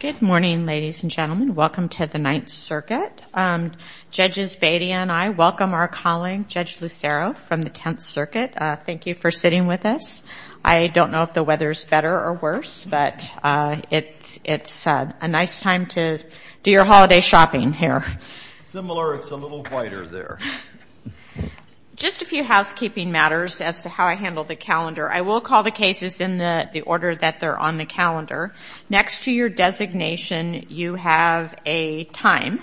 Good morning, ladies and gentlemen. Welcome to the Ninth Circuit. Judges Bedia and I welcome our colleague, Judge Lucero, from the Tenth Circuit. Thank you for sitting with us. I don't know if the weather is better or worse, but it's a nice time to do your holiday shopping here. Similar, it's a little quieter there. Just a few housekeeping matters as to how I handle the calendar. I will call the cases in the order that they're on the calendar. Next to your designation, you have a time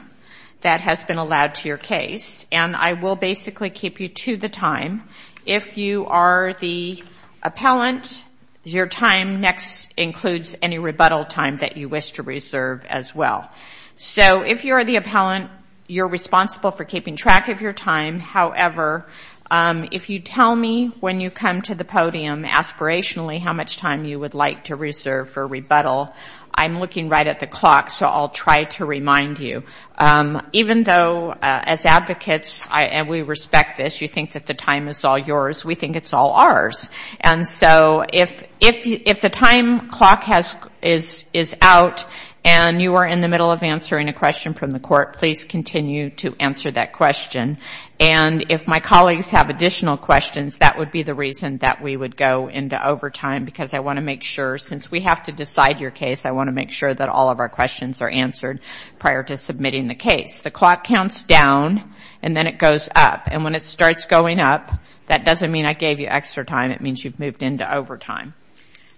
that has been allowed to your case. I will basically keep you to the time. If you are the appellant, your time next includes any rebuttal time that you wish to reserve as well. If you're the appellant, you're responsible for keeping track of your time. However, if you tell me when you come to the podium aspirationally how much time you would like to reserve for rebuttal, I'm looking right at the clock, so I'll try to remind you. Even though as advocates we respect this, you think that the time is all yours, we think it's all ours. And so if the time clock is out and you are in the middle of answering a question from the court, please continue to answer that question. And if my colleagues have additional questions, that would be the reason that we would go into overtime, because I want to make sure, since we have to decide your case, I want to make sure that all of our questions are answered prior to submitting the case. The clock counts down, and then it goes up. And when it starts going up, that doesn't mean I gave you extra time. It means you've moved into overtime.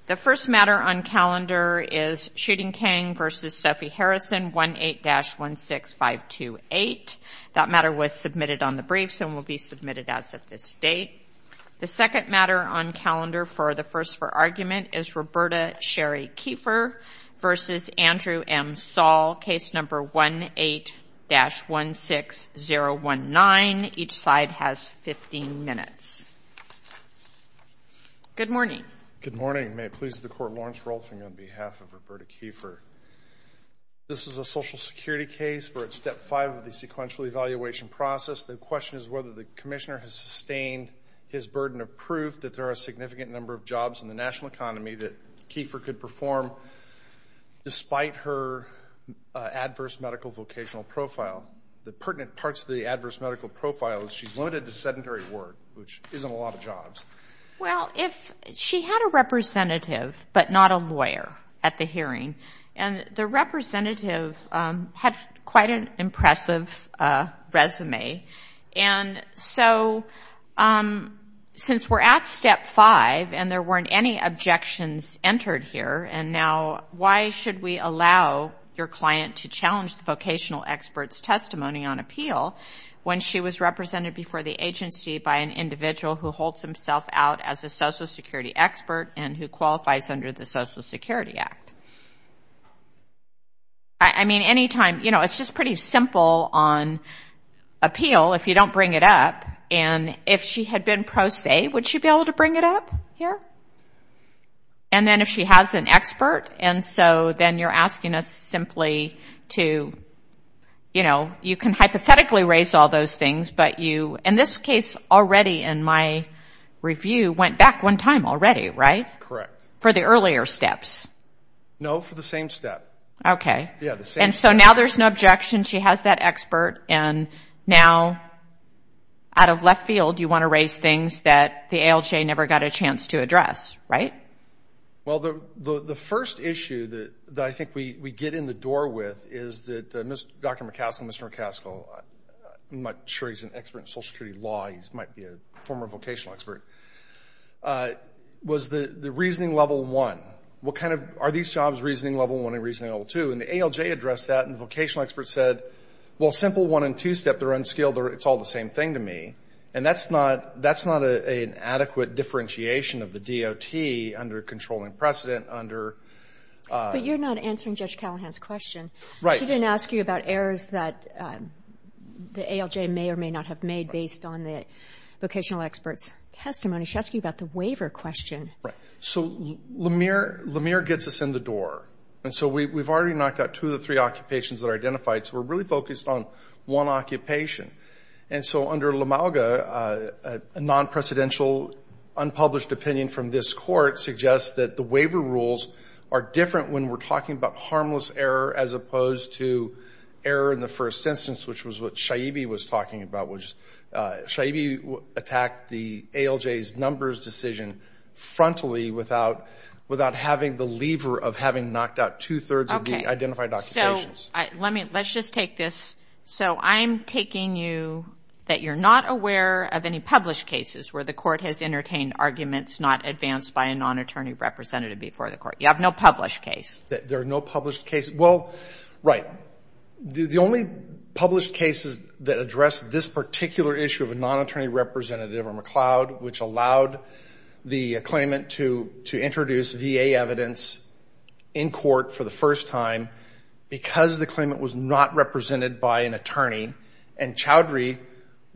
The first matter on calendar is Shooting King v. Stuffy Harrison, 18-16528. That matter was submitted on the briefs and will be submitted as of this date. The second matter on calendar for the first for argument is Roberta Sherry Kiefer v. Andrew M. Saul, case number 18-16019. Each side has 15 minutes. Good morning. Good morning. May it please the Court, Lawrence Rolfing on behalf of Roberta Kiefer. This is a Social Security case. We're at step five of the sequential evaluation process. The question is whether the Commissioner has sustained his burden of proof that there are a significant number of jobs in the national economy that Kiefer could perform despite her adverse medical vocational profile. The pertinent parts of the adverse medical profile is she's limited to sedentary work, which isn't a lot of jobs. Well, if she had a representative but not a lawyer at the hearing, and the representative had quite an impressive resume, and so since we're at step five and there weren't any objections entered here, and now why should we allow your client to challenge the vocational expert's testimony on appeal when she was represented before the agency by an individual who holds himself out as a Social Security expert and who qualifies under the Social Security Act? I mean, any time, you know, it's just pretty simple on appeal if you don't bring it up, and if she had been pro se, would she be able to bring it up here? And then if she has an expert, and so then you're asking us simply to, you know, you can hypothetically raise all those things, but you, in this case already in my review, went back one time already, right? Correct. For the earlier steps. No, for the same step. Okay. Yeah, the same step. And so now there's an objection, she has that expert, and now out of left field you want to raise things that the ALJ never got a chance to address, right? Well the first issue that I think we get in the door with is that Dr. McCaskill, Mr. McCaskill, I'm not sure he's an expert in Social Security law, he might be a former vocational expert, was the reasoning level one. What kind of, are these jobs reasoning level one and reasoning level two? And the ALJ addressed that, and the vocational expert said, well simple one and two step, they're unskilled, it's all the same thing to me. And that's not an adequate differentiation of the DOT under controlling precedent under... But you're not answering Judge Callahan's question. Right. She didn't ask you about errors that the ALJ may or may not have made based on the vocational expert's testimony. She asked you about the waiver question. So LaMere gets us in the door. And so we've already knocked out two of the three occupations that are identified, so we're really focused on one occupation. And so under LaMalga, a non-precedential unpublished opinion from this court suggests that the waiver rules are different when we're talking about harmless error as opposed to error in the first instance, which was what Shaibi was talking about, which Shaibi attacked the ALJ's numbers decision frontally without having the lever of having knocked out two-thirds of the identified occupations. Okay. So let's just take this. So I'm taking you that you're not aware of any published cases where the court has entertained arguments not advanced by a non-attorney representative before the court. You have no published case. There are no published cases. Well, right. The only published cases that address this particular issue of a non-attorney representative are McLeod, which allowed the claimant to introduce VA evidence in court for the first time because the claimant was not represented by an attorney, and Chowdhury,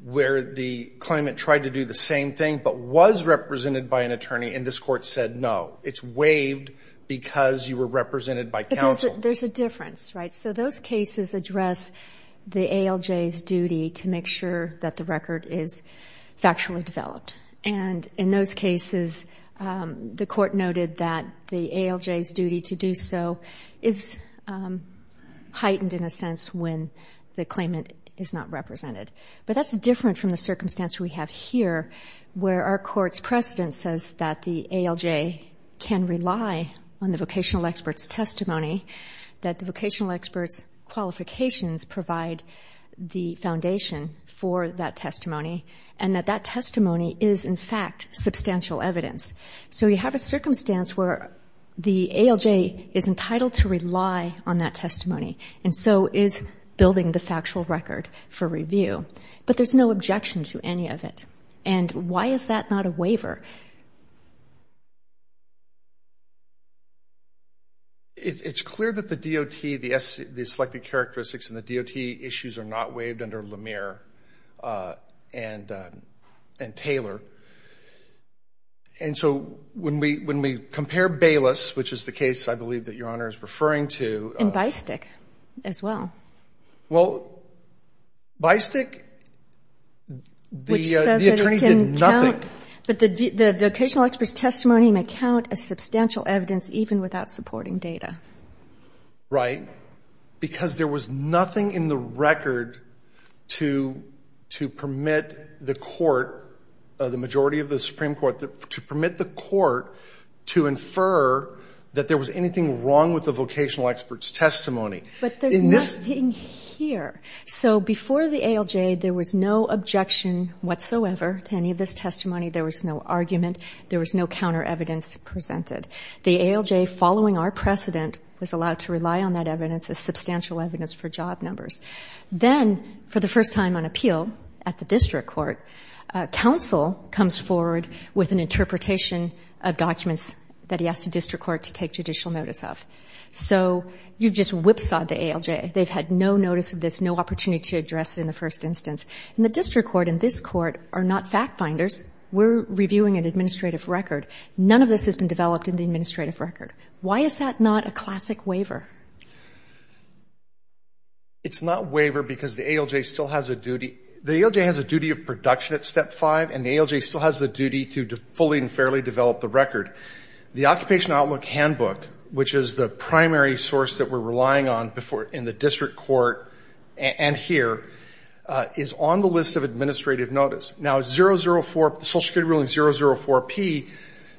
where the claimant tried to do the same thing but was represented by an attorney, and this court said no. It's waived because you were represented by counsel. There's a difference, right? So those cases address the ALJ's duty to make sure that the record is factually developed. And in those cases, the court noted that the ALJ's duty to do so is heightened in a sense when the claimant is not represented. But that's different from the circumstance we have here where our court's precedent says that the ALJ can rely on the vocational expert's testimony, that the vocational expert's qualifications provide the foundation for that testimony, and that that testimony is, in fact, substantial evidence. So you have a circumstance where the ALJ is entitled to rely on that testimony, and so is building the factual record for review. But there's no objection to any of it. And why is that not a waiver? It's clear that the DOT, the selected characteristics in the DOT issues are not waived under Lemire and Taylor. And so when we compare Bayless, which is the case I believe that Your Honor is referring to... And Bystic as well. Well, Bystic, the attorney did nothing. But the vocational expert's testimony may count as substantial evidence even without supporting data. Right. Because there was nothing in the record to permit the court, the majority of the Supreme Court, to permit the court to infer that there was anything wrong with the vocational expert's testimony. But there's nothing here. So before the ALJ, there was no objection whatsoever to any of this testimony. There was no argument. There was no counter evidence presented. The ALJ, following our precedent, was allowed to rely on that evidence as substantial evidence for job numbers. Then, for the first time on appeal at the district court, counsel comes forward with an interpretation of documents that he asked the district court to take judicial notice of. So you've just whipsawed the ALJ. They've had no notice of this, no opportunity to address it in the first instance. And the district court and this court are not fact finders. We're reviewing an administrative record. None of this has been developed in the administrative record. Why is that not a classic waiver? It's not a waiver because the ALJ still has a duty. The ALJ has a duty of production at step five, and the ALJ still has the duty to fully and fairly develop the record. The Occupation Outlook Handbook, which is the primary source that we're relying on in the district court and here, is on the list of administrative notice. Now, Social Security Ruling 004P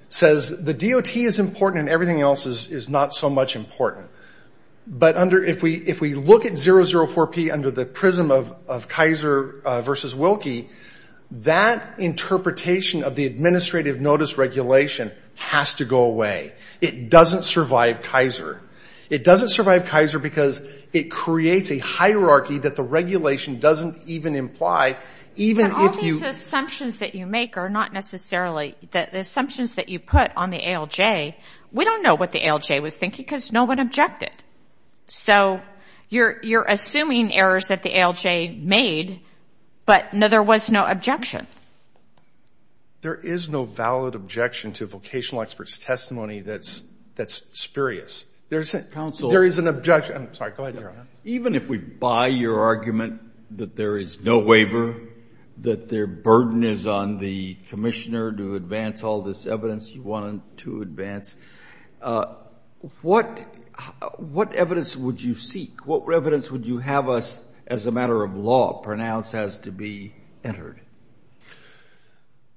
says the DOT is important and everything else is not so much important. But if we look at 004P under the prism of Kaiser versus Wilkie, that interpretation of the administrative notice regulation has to go away. It doesn't survive Kaiser. It doesn't survive Kaiser because it creates a hierarchy that the regulation doesn't even imply, even if you ‑‑ But all these assumptions that you make are not necessarily ‑‑ the assumptions that you put on the ALJ, we don't know what the ALJ was thinking because no one objected. So you're assuming errors that the ALJ made, but there was no objection. There is no valid objection to vocational expert's testimony that's spurious. There is an objection. I'm sorry, go ahead, Your Honor. Even if we buy your argument that there is no waiver, that their burden is on the commissioner to advance all this evidence you wanted to advance, what evidence would you seek? What evidence would you have us, as a matter of law, pronounce as to be entered?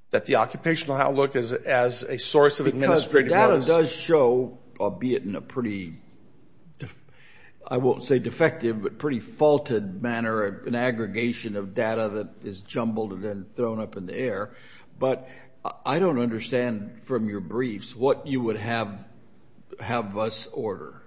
That the occupational outlook is as a source of administrative notice. Because the data does show, albeit in a pretty, I won't say defective, but pretty faulted manner, an aggregation of data that is jumbled and then thrown up in the air. But I don't understand from your briefs what you would have us order.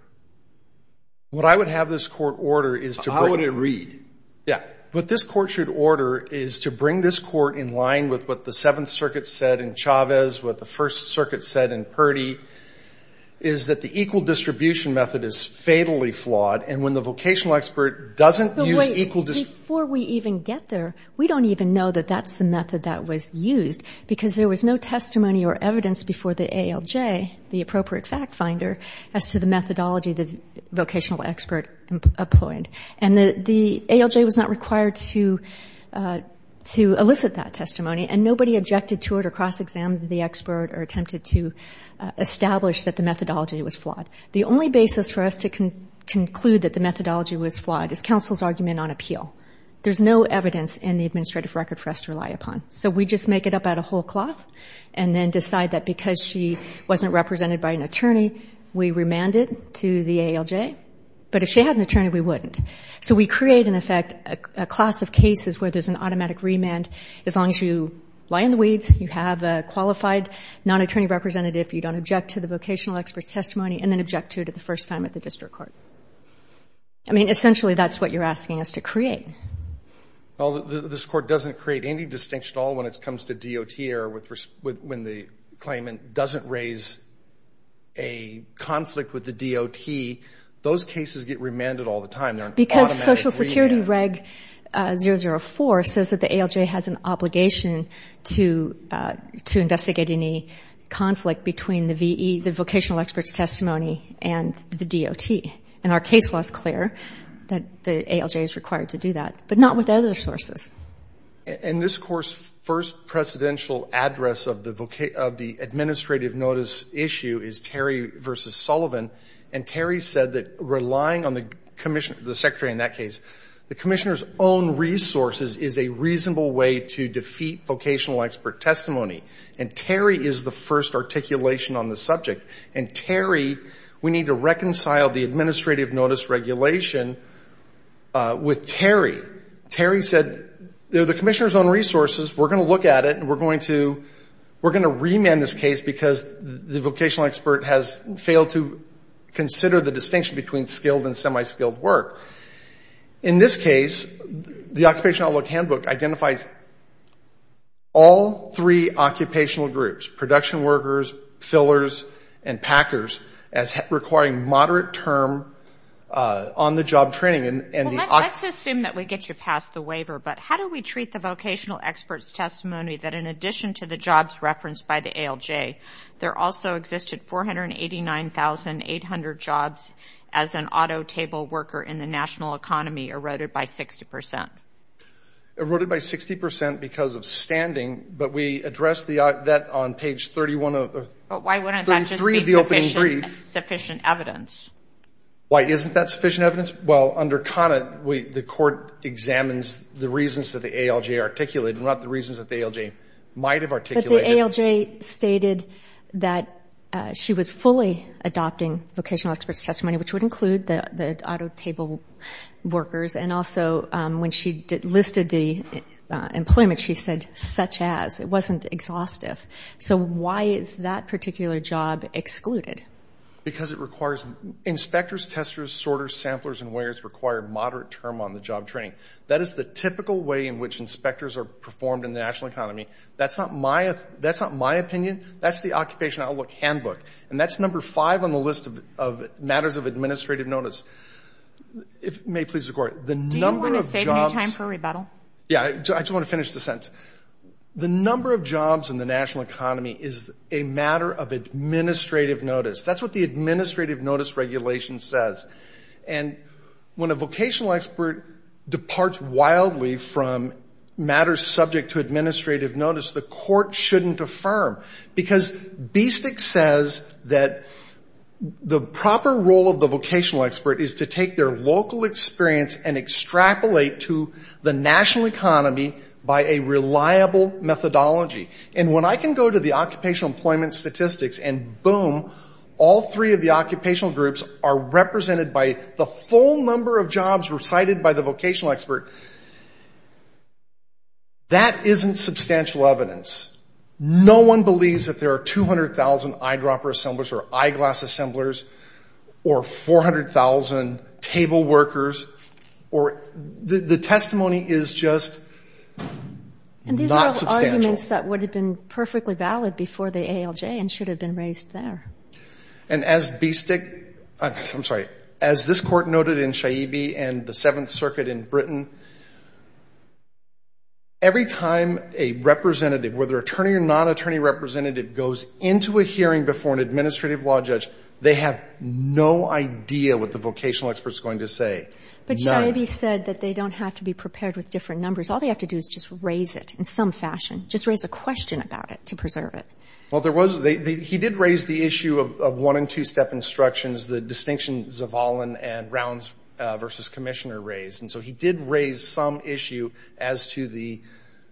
What I would have this court order is to bring ‑‑ How would it read? Yeah. What this court should order is to bring this court in line with what the Seventh Circuit said in Chavez, what the First Circuit said in Purdy, is that the equal distribution method is fatally flawed. And when the vocational expert doesn't use ‑‑ Before we even get there, we don't even know that that's the method that was used, because there was no testimony or evidence before the ALJ, the appropriate fact finder, as to the methodology the vocational expert employed. And the ALJ was not required to elicit that testimony, and nobody objected to it or cross‑examined the expert or attempted to establish that the methodology was flawed. The only basis for us to conclude that the methodology was flawed is counsel's argument on appeal. There's no evidence in the administrative record for us to rely upon. So we just make it up out of whole cloth and then decide that because she wasn't represented by an attorney, we remanded to the ALJ. But if she had an attorney, we wouldn't. So we create, in effect, a class of cases where there's an automatic remand as long as you lie in the weeds, you have a qualified non‑attorney representative, you don't object to the vocational expert's testimony, and then object to it the first time at the district court. I mean, essentially, that's what you're asking us to create. Well, this court doesn't create any distinction at all when it comes to DOT error, when the claimant doesn't raise a conflict with the DOT. Those cases get remanded all the time. Because Social Security Reg. 004 says that the ALJ has an obligation to investigate any vocational expert's testimony and the DOT. And our case law is clear that the ALJ is required to do that, but not with other sources. In this course, first precedential address of the administrative notice issue is Terry v. Sullivan. And Terry said that relying on the commissioner, the secretary in that case, the commissioner's own resources is a reasonable way to defeat vocational expert testimony. And Terry is the first articulation on the subject. And Terry, we need to reconcile the administrative notice regulation with Terry. Terry said, they're the commissioner's own resources, we're going to look at it and we're going to remand this case because the vocational expert has failed to consider the distinction between skilled and semi‑skilled work. In this case, the Occupational Outlook Handbook identifies all three occupational groups, production workers, fillers, and packers, as requiring moderate term on‑the‑job training. Well, let's assume that we get you past the waiver, but how do we treat the vocational expert's testimony that in addition to the jobs referenced by the ALJ, there also existed 489,800 jobs as an auto table worker in the national economy eroded by 60%? Eroded by 60% because of standing, but we addressed that on page 31 of the ‑‑ But why wouldn't that just be sufficient evidence? Why isn't that sufficient evidence? Well, under CONUT, the court examines the reasons that the ALJ articulated, not the reasons that the ALJ might have articulated. But the ALJ stated that she was fully adopting vocational expert's testimony, which would include the auto table workers, and also when she listed the employment, she said, such as. It wasn't exhaustive. So why is that particular job excluded? Because it requires inspectors, testers, sorters, samplers, and wearers require moderate term on‑the‑job training. That is the typical way in which inspectors are performed in the national economy. That's not my opinion. That's the Occupation Outlook handbook. And that's number five on the list of matters of administrative notice. If it may please the Court, the number of jobs ‑‑ Do you want to save me time for rebuttal? Yeah. I just want to finish the sentence. The number of jobs in the national economy is a matter of administrative notice. That's what the administrative notice regulation says. And when a vocational expert departs wildly from matters subject to administrative notice, the Court shouldn't affirm. Because BSTEC says that the proper role of the vocational expert is to take their local experience and extrapolate to the national economy by a reliable methodology. And when I can go to the occupational employment statistics and boom, all three of the occupational groups are represented by the full number of jobs recited by the vocational expert, that isn't substantial evidence. No one believes that there are 200,000 eyedropper assemblers or eyeglass assemblers or 400,000 table workers. The testimony is just not substantial. And these are all arguments that would have been perfectly valid before the ALJ and should have been raised there. And as BSTEC ‑‑ I'm sorry. As this Court noted in Shaibi and the Seventh Circuit in Britain, every time a representative, whether attorney or nonattorney representative, goes into a hearing before an administrative law judge, they have no idea what the vocational expert is going to say. None. But Shaibi said that they don't have to be prepared with different numbers. All they have to do is just raise it in some fashion. Just raise a question about it to preserve it. Well, there was ‑‑ he did raise the issue of one‑and‑two‑step instructions, the distinction Zavalin and Rounds versus Commissioner raised. And so he did raise some issue as to the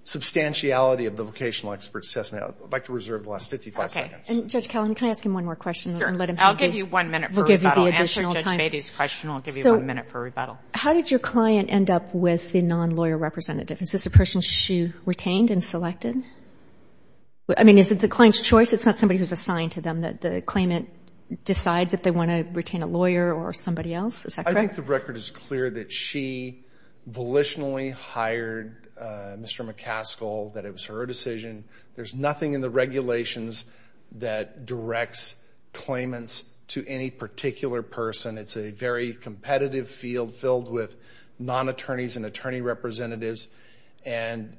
substantiality of the vocational expert's testimony. I would like to reserve the last 55 seconds. Okay. And Judge Kelley, can I ask him one more question? Sure. I'll give you one minute for rebuttal. We'll give you the additional time. Answering Judge Beatty's question, I'll give you one minute for rebuttal. How did your client end up with the nonlawyer representative? Is this a person she assigned to them that the claimant decides if they want to retain a lawyer or somebody else? Is that correct? I think the record is clear that she volitionally hired Mr. McCaskill, that it was her decision. There's nothing in the regulations that directs claimants to any particular person. It's a very competitive field filled with nonattorneys and attorney representatives. And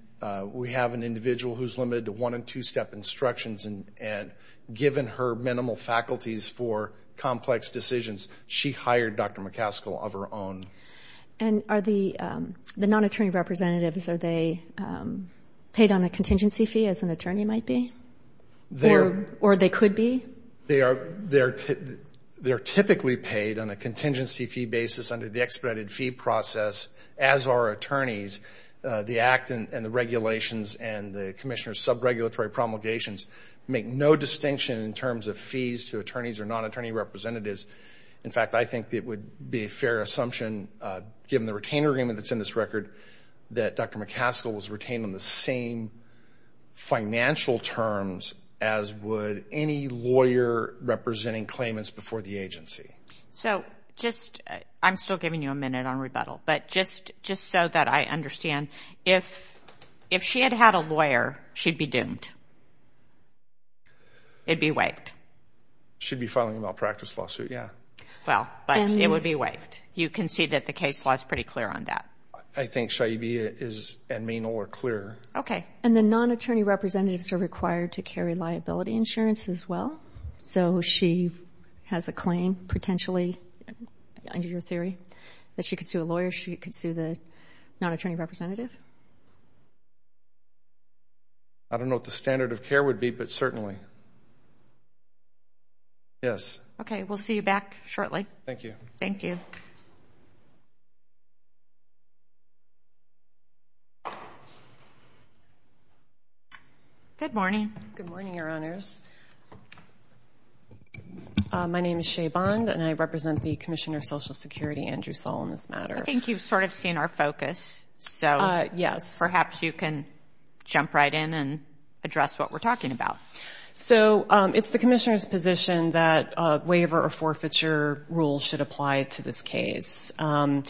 we have an individual who's limited to one- and two-step instructions. And given her minimal faculties for complex decisions, she hired Dr. McCaskill of her own. And are the nonattorney representatives, are they paid on a contingency fee as an attorney might be? Or they could be? They're typically paid on a contingency fee basis under the expedited fee process as are attorneys. The act and the regulations and the commissioner's subregulatory promulgations make no distinction in terms of fees to attorneys or nonattorney representatives. In fact, I think it would be a fair assumption, given the retainer agreement that's in this record, that Dr. McCaskill was retained on the same financial terms as would any lawyer representing claimants before the agency. I'm still giving you a minute on rebuttal, but just so that I understand, if she had had a lawyer, she'd be doomed? It'd be waived? She'd be filing a malpractice lawsuit, yeah. Well, but it would be waived. You can see that the case law is pretty clear on that. I think Shaibia is admin or clear. Okay. And the nonattorney representatives are required to carry liability insurance as well. So she has a claim, potentially, under your theory, that she could sue a lawyer, she could sue the nonattorney representative? I don't know what the standard of care would be, but certainly. Yes. Okay. We'll see you back shortly. Thank you. Thank you. Good morning. Good morning, Your Honors. My name is Shea Bond, and I represent the Commissioner of Social Security, Andrew Saul, on this matter. I think you've sort of seen our focus, so perhaps you can jump right in and address what we're talking about. So it's the Commissioner's position that a waiver or forfeiture rule should apply to this case. Although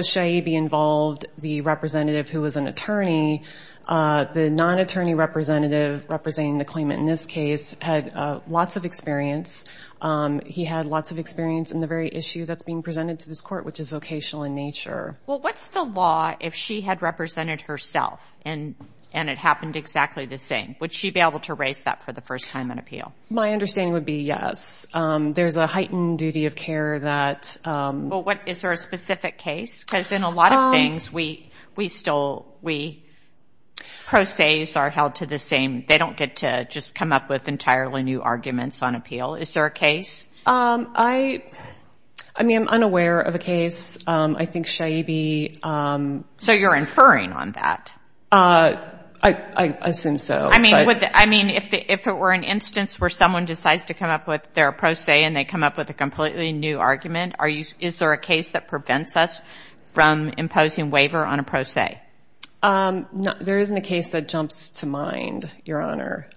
Shaibia involved the representative who was an attorney, the nonattorney representative representing the claimant in this case had lots of experience. He had lots of experience in the very issue that's being presented to this court, which is vocational in nature. Well, what's the law if she had represented herself and it happened exactly the same? Would she be able to raise that for the first time in appeal? My understanding would be yes. There's a heightened duty of care that... Well, is there a specific case? Because in a lot of things, pro ses are held to the same. They don't get to just come up with entirely new arguments on appeal. Is there a case? I mean, I'm unaware of a case. I think Shaibia... So you're inferring on that? I assume so. I mean, if it were an instance where someone decides to come up with their pro se and they come up with a completely new argument, is there a case that prevents us from imposing waiver on a pro se? There isn't a case that jumps to mind, Your Honor.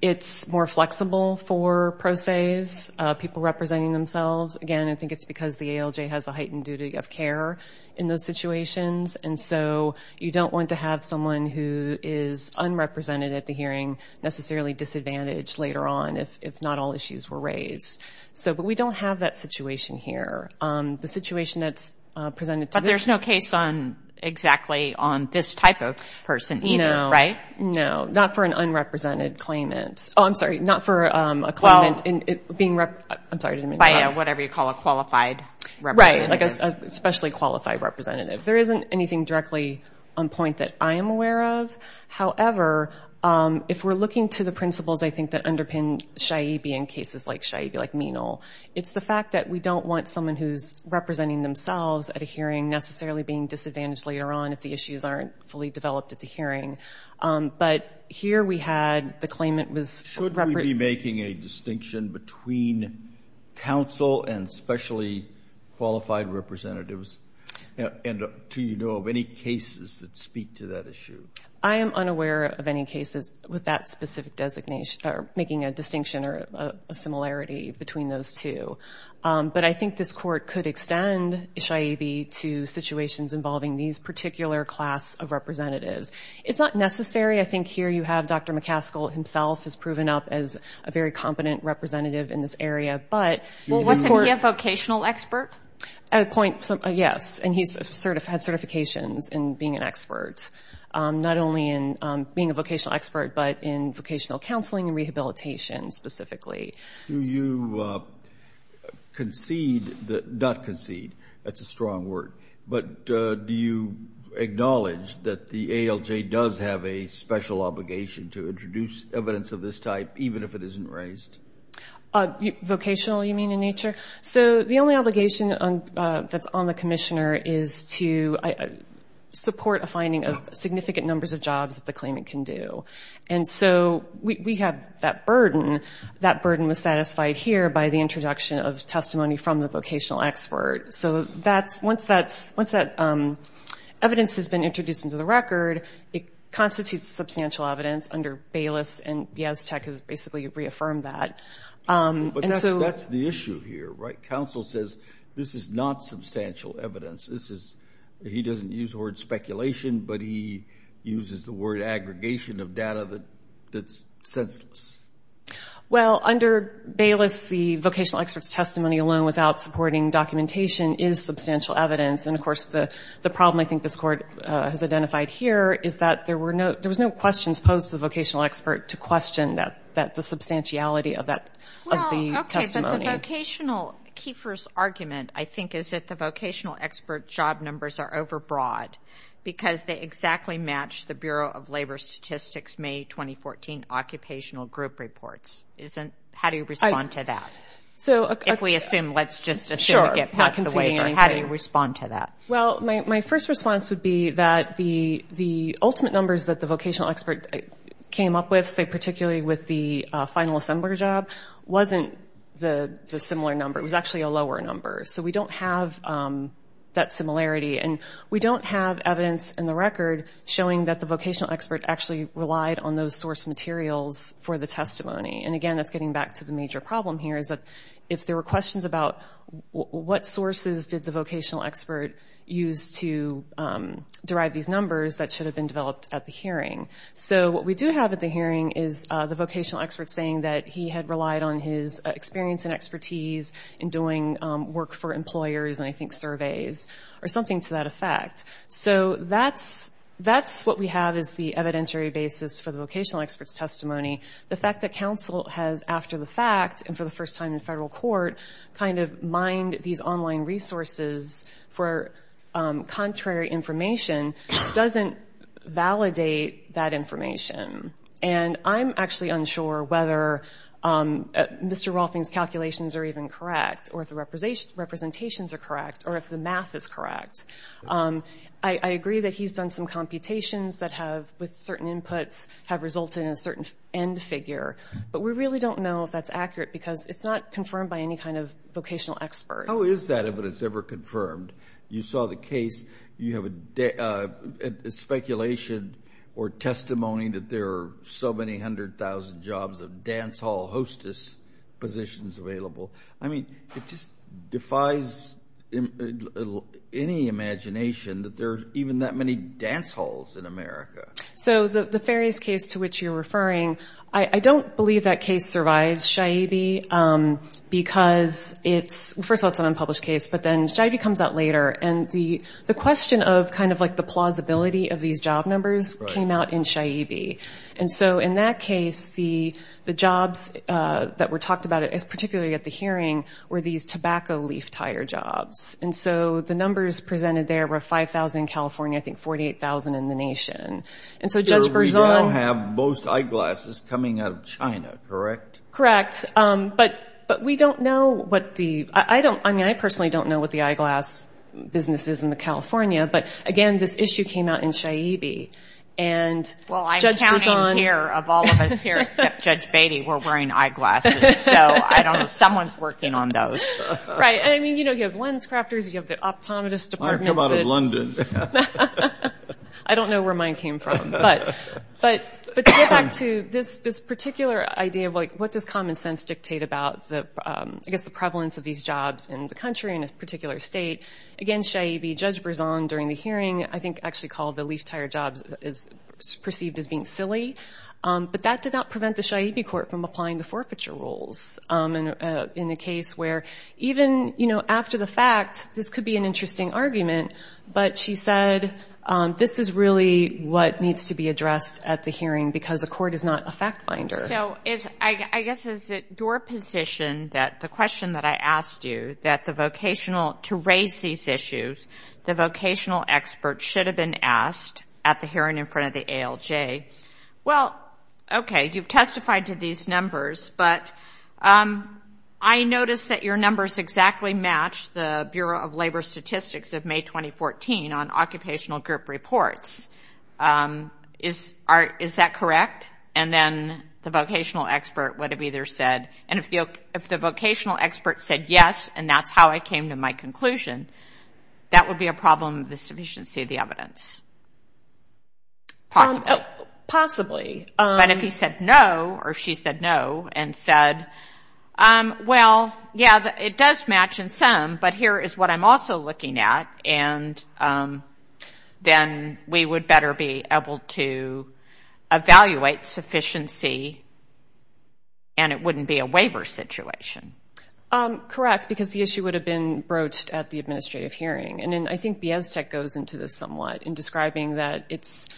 It's more flexible for pro ses, people representing themselves. Again, I think it's because the ALJ has the heightened duty of care in those situations. And so you don't want to have someone who is unrepresented at the hearing necessarily disadvantaged later on if not all issues were raised. But we don't have that situation here. The situation that's presented to this... But there's no case exactly on this type of person either, right? No, not for an unrepresented claimant. Oh, I'm sorry, not for a claimant being... I'm sorry, I didn't mean to interrupt. Whatever you call a qualified representative. Right, like a specially qualified representative. There isn't anything directly on point that I am aware of. However, if we're looking to the principles, I think, that underpin SHIA-B in cases like SHIA-B, like Menal, it's the fact that we don't want someone who's representing themselves at a hearing necessarily being disadvantaged later on if the issues aren't fully developed at the hearing. But here we had the claimant was... Should we be making a distinction between counsel and specially qualified representatives? And do you know of any cases that speak to that issue? I am unaware of any cases with that specific designation, or making a distinction or a similarity between those two. But I think this court could extend SHIA-B to situations involving these particular class of representatives. It's not necessary. I think here you have Dr. McCaskill himself has proven up as a very competent representative in this area, but... Well, wasn't he a vocational expert? At a point, yes. And he's had certifications in being an expert. Not only in being a vocational expert, but in vocational counseling and rehabilitation, specifically. Do you concede that... Not concede. That's a strong word. But do you acknowledge that the ALJ does have a special obligation to introduce evidence of this type, even if it isn't raised? Vocational, you mean, in nature? So the only obligation that's on the commissioner is to support a finding of significant numbers of jobs that the claimant can do. And so we have that burden. That burden was satisfied here by the introduction of testimony from the vocational expert. So once that evidence has been introduced into the record, it constitutes substantial evidence under Baylis, and Yaztek has basically reaffirmed that. But that's the issue here, right? Counsel says this is not substantial evidence. He doesn't use the word speculation, but he uses the word aggregation of data that's senseless. Well, under Baylis, the vocational expert's testimony alone without supporting documentation is substantial evidence. And of course, the problem I think this Court has identified here is that there was no questions posed to the vocational expert to question the substantiality of the testimony. Okay, but the vocational, Kiefer's argument, I think, is that the vocational expert job numbers are overbroad because they exactly match the Bureau of Labor Statistics May 2014 occupational group reports. How do you respond to that? If we assume, let's just assume we get past the waiver, how do you respond to that? Well, my first response would be that the ultimate numbers that the vocational expert came up with, say particularly with the final assembler job, wasn't the similar number. It was actually a lower number. So we don't have that similarity. And we don't have evidence in the record showing that the vocational expert actually relied on those source materials for the testimony. And again, that's getting back to the major problem here is that if there were questions about what sources did the vocational expert use to derive these numbers that should have been developed at the hearing. So what we do have at the hearing is the vocational expert saying that he had relied on his experience and expertise in doing work for employers and I think surveys or something to that effect. So that's what we have as the evidentiary basis for the vocational expert's testimony. The fact that counsel has after the fact and for the first time in federal court kind of mined these online resources for contrary information doesn't validate that information. And I'm actually unsure whether Mr. Rolfing's calculations are even correct or if the representations are correct or if the math is correct. I agree that he's done some computations that have with certain inputs have resulted in a certain end figure but we really don't know if that's accurate because it's not confirmed by any kind of vocational expert. How is that evidence ever confirmed? You saw the case, you have a speculation or testimony that there are so many hundred thousand jobs of dance hall hostess positions available. I mean, it just defies any imagination that there's even that many dance halls in America. So the Farias case to which you're referring, I don't believe that case survives, Shaibi, because it's, first of all, it's an unpublished case but then Shaibi comes out later and the question of kind of like the plausibility of these job numbers came out in Shaibi. And so in that case, the jobs that were talked about, particularly at the hearing, were these tobacco leaf tire jobs. And so the numbers presented there were 5,000 in California, I think 48,000 in the nation. And so Judge Berzon- We now have most eyeglasses coming out of China, correct? Correct, but we don't know what the, I don't, I mean, I personally don't know what the eyeglass business is in the California but again, this issue came out in Shaibi. And Judge Berzon- Well, I'm counting here of all of us here, except Judge Beatty, we're wearing eyeglasses. So I don't know, someone's working on those. Right, and I mean, you know, you have lens crafters, you have the optometrist department- I come out of London. I don't know where mine came from. But to get back to this particular idea of like, what does common sense dictate about the, I guess, the prevalence of these jobs in the country in a particular state, again, Shaibi, Judge Berzon during the hearing, I think actually called the leaf tire jobs is perceived as being silly. But that did not prevent the Shaibi court from applying the forfeiture rules in a case where even, you know, after the fact, this could be an interesting argument, but she said, this is really what needs to be addressed at the hearing because the court is not a fact finder. So it's, I guess, is it your position that the question that I asked you, that the vocational, to raise these issues, the vocational expert should have been asked at the hearing in front of the ALJ, well, okay, you've testified to these numbers, but I noticed that your numbers exactly match the Bureau of Labor Statistics of May 2014 on occupational group reports. Is that correct? And then the vocational expert would have either said, and if the vocational expert said yes, and that's how I came to my conclusion, that would be a problem of the sufficiency of the evidence. Possibly. Possibly. But if he said no, or she said no, and said, well, yeah, it does match in some, but here is what I'm also looking at, and then we would better be able to evaluate sufficiency and it wouldn't be a waiver situation. Correct, because the issue would have been broached at the administrative hearing. And then I think Beaztech goes into this somewhat in describing that it's,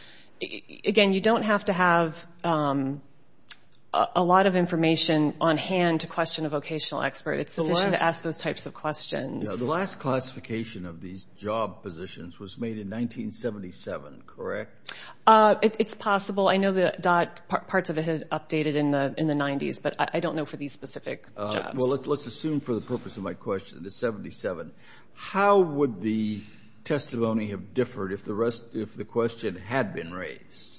again, you don't have to have a lot of information on hand to question a vocational expert. It's sufficient to ask those types of questions. The last classification of these job positions was made in 1977, correct? It's possible. I know that DOT, parts of it had updated in the 90s, but I don't know for these specific jobs. Let's assume for the purpose of my question, it's 77. How would the testimony have differed if the question had been raised?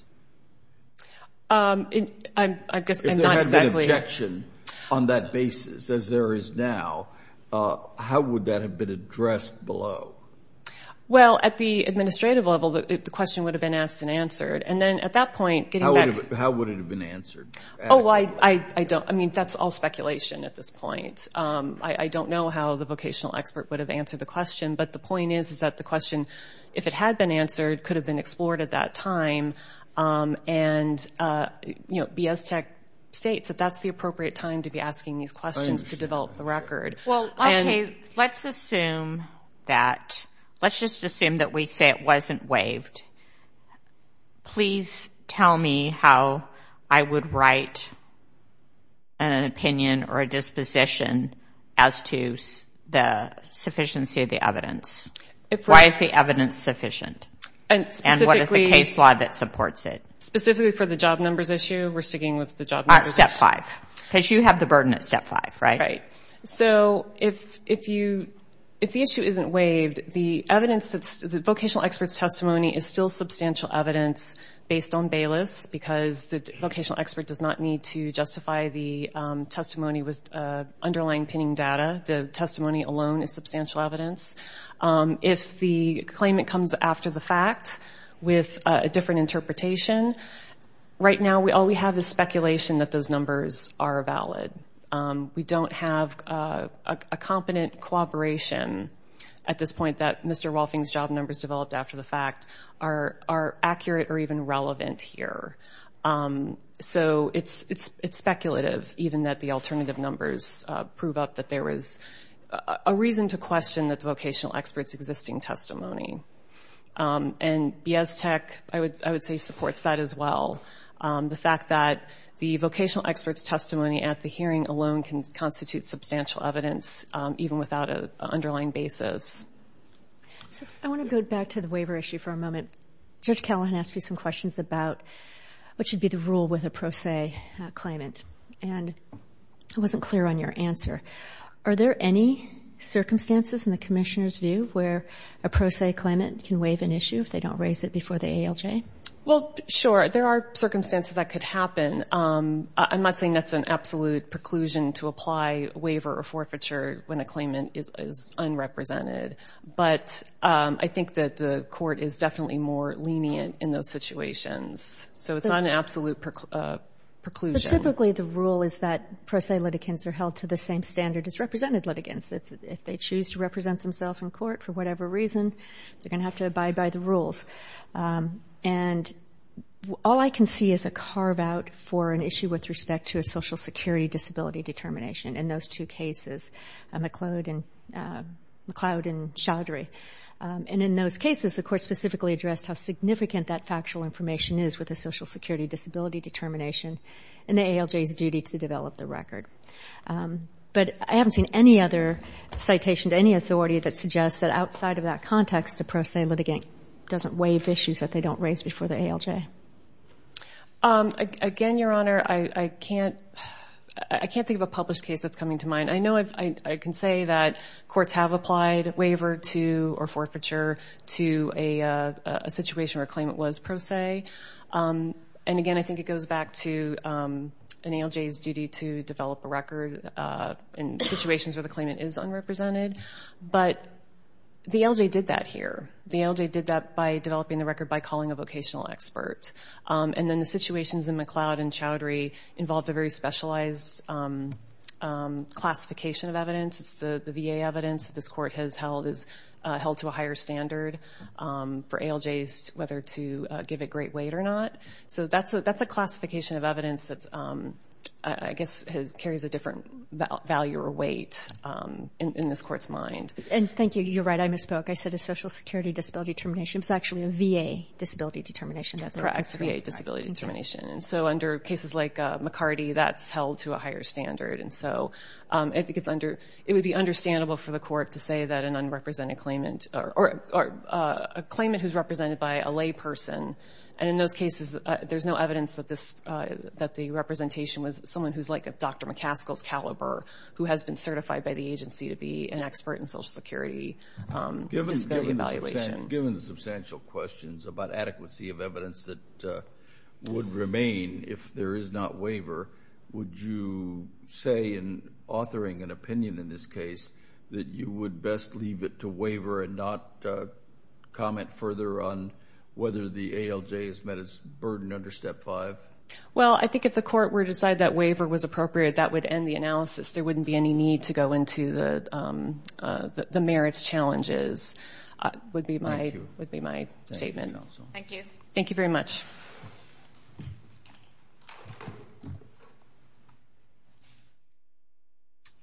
I guess I'm not exactly... If there had been objection on that basis, as there is now, how would that have been addressed below? Well, at the administrative level, the question would have been asked and answered. And then at that point, getting back... How would it have been answered? Oh, I don't... I mean, that's all speculation at this point. I don't know how the vocational expert would have answered the question. But the point is that the question, if it had been answered, could have been explored at that time. And Beaztech states that that's the appropriate time to be asking these questions to develop the record. Well, okay, let's assume that... Let's just assume that we say it wasn't waived. Please tell me how I would write an opinion or a disposition as to the sufficiency of the evidence. Why is the evidence sufficient? And what is the case law that supports it? Specifically for the job numbers issue, we're sticking with the job numbers issue. All right, step five. Because you have the burden at step five, right? Right. So if the issue isn't waived, the evidence that's... The vocational expert's testimony is still substantial evidence based on Bayless because the vocational expert does not need to justify the testimony with underlying pinning data. The testimony alone is substantial evidence. If the claimant comes after the fact with a different interpretation, right now all we have is speculation that those numbers are valid. We don't have a competent cooperation at this point that Mr. Wolfing's job numbers developed after the fact. Are accurate or even relevant here. So it's speculative even that the alternative numbers prove up that there was a reason to question that the vocational expert's existing testimony. And BIS Tech, I would say, supports that as well. The fact that the vocational expert's testimony at the hearing alone can constitute substantial evidence even without an underlying basis. So I want to go back to the waiver issue for a moment, Judge Callahan asked you some questions about what should be the rule with a pro se claimant. And I wasn't clear on your answer. Are there any circumstances in the commissioner's view where a pro se claimant can waive an issue if they don't raise it before the ALJ? Well, sure. There are circumstances that could happen. I'm not saying that's an absolute preclusion to apply waiver or forfeiture when a claimant is unrepresented. But I think that the court is definitely more lenient in those situations. So it's not an absolute preclusion. But typically the rule is that pro se litigants are held to the same standard as represented litigants. If they choose to represent themselves in court for whatever reason, they're going to have to abide by the rules. And all I can see is a carve out for an issue with respect to a social security disability determination in those two cases. McLeod and Chaudhary. And in those cases, the court specifically addressed how significant that factual information is with a social security disability determination and the ALJ's duty to develop the record. But I haven't seen any other citation to any authority that suggests that outside of that context, a pro se litigant doesn't waive issues that they don't raise before the ALJ. Again, Your Honor, I can't think of a published case that's coming to mind. I know I can say that courts have applied waiver to, or forfeiture to a situation where a claimant was pro se. And again, I think it goes back to an ALJ's duty to develop a record in situations where the claimant is unrepresented. But the ALJ did that here. The ALJ did that by developing the record And then the situations in McLeod and Chaudhary involved a very specialized classification of evidence. It's the VA evidence that this court has held is held to a higher standard for ALJs, whether to give it great weight or not. So that's a classification of evidence that I guess carries a different value or weight in this court's mind. And thank you. You're right. I misspoke. I said a social security disability determination. It's actually a VA disability determination. Correct, VA disability determination. And so under cases like McCarty, that's held to a higher standard. And so I think it would be understandable for the court to say that an unrepresented claimant or a claimant who's represented by a lay person. And in those cases, there's no evidence that the representation was someone who's like a Dr. McCaskill's caliber, who has been certified by the agency to be an expert in social security disability evaluation. Given the substantial questions about adequacy of evidence that would remain if there is not waiver, would you say in authoring an opinion in this case that you would best leave it to waiver and not comment further on whether the ALJ has met its burden under step five? Well, I think if the court were to decide that waiver was appropriate, that would end the analysis. There wouldn't be any need to go into the merits challenges would be my statement. Thank you. Thank you very much.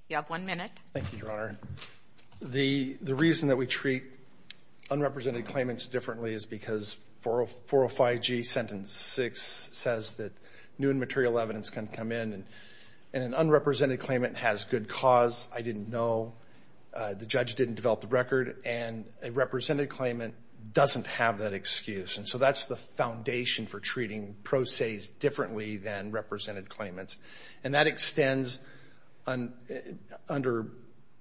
You have one minute. Thank you, Your Honor. The reason that we treat unrepresented claimants differently is because 405G sentence six says that new and material evidence can come in and an unrepresented claimant has good cause. I didn't know, the judge didn't develop the record and a represented claimant doesn't have that excuse. And so that's the foundation for treating pro se's differently than represented claimants. And that extends under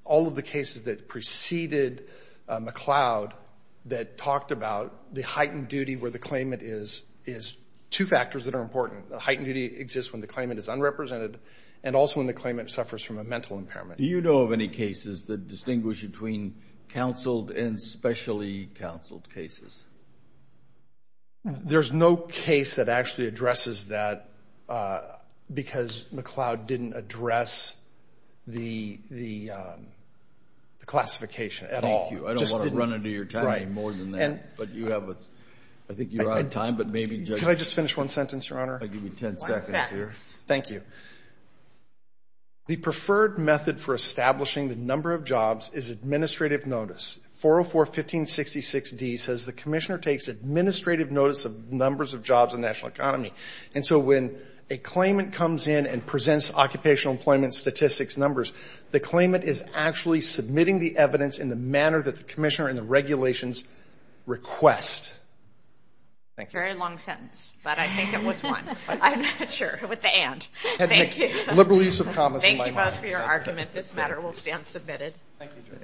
all of the cases that preceded McLeod that talked about the heightened duty where the claimant is, is two factors that are important. Heightened duty exists when the claimant is unrepresented and also when the claimant suffers from a mental impairment. Do you know of any cases that distinguish between counseled and specially counseled cases? There's no case that actually addresses that because McLeod didn't address the classification at all. Thank you. I don't want to run into your time more than that, but you have, I think you're out of time, but maybe judge- Can I just finish one sentence, Your Honor? I'll give you 10 seconds here. Thank you. The preferred method for establishing the number of jobs is administrative notice. 404-1566-D says the commissioner takes administrative notice of numbers of jobs in national economy. And so when a claimant comes in and presents occupational employment statistics numbers, the claimant is actually submitting the evidence in the manner that the commissioner and the regulations request. Very long sentence, but I think it was one. I'm not sure with the and. Liberal use of commas in my mind. Thank you both for your argument. This matter will stand submitted. Thank you, Judge.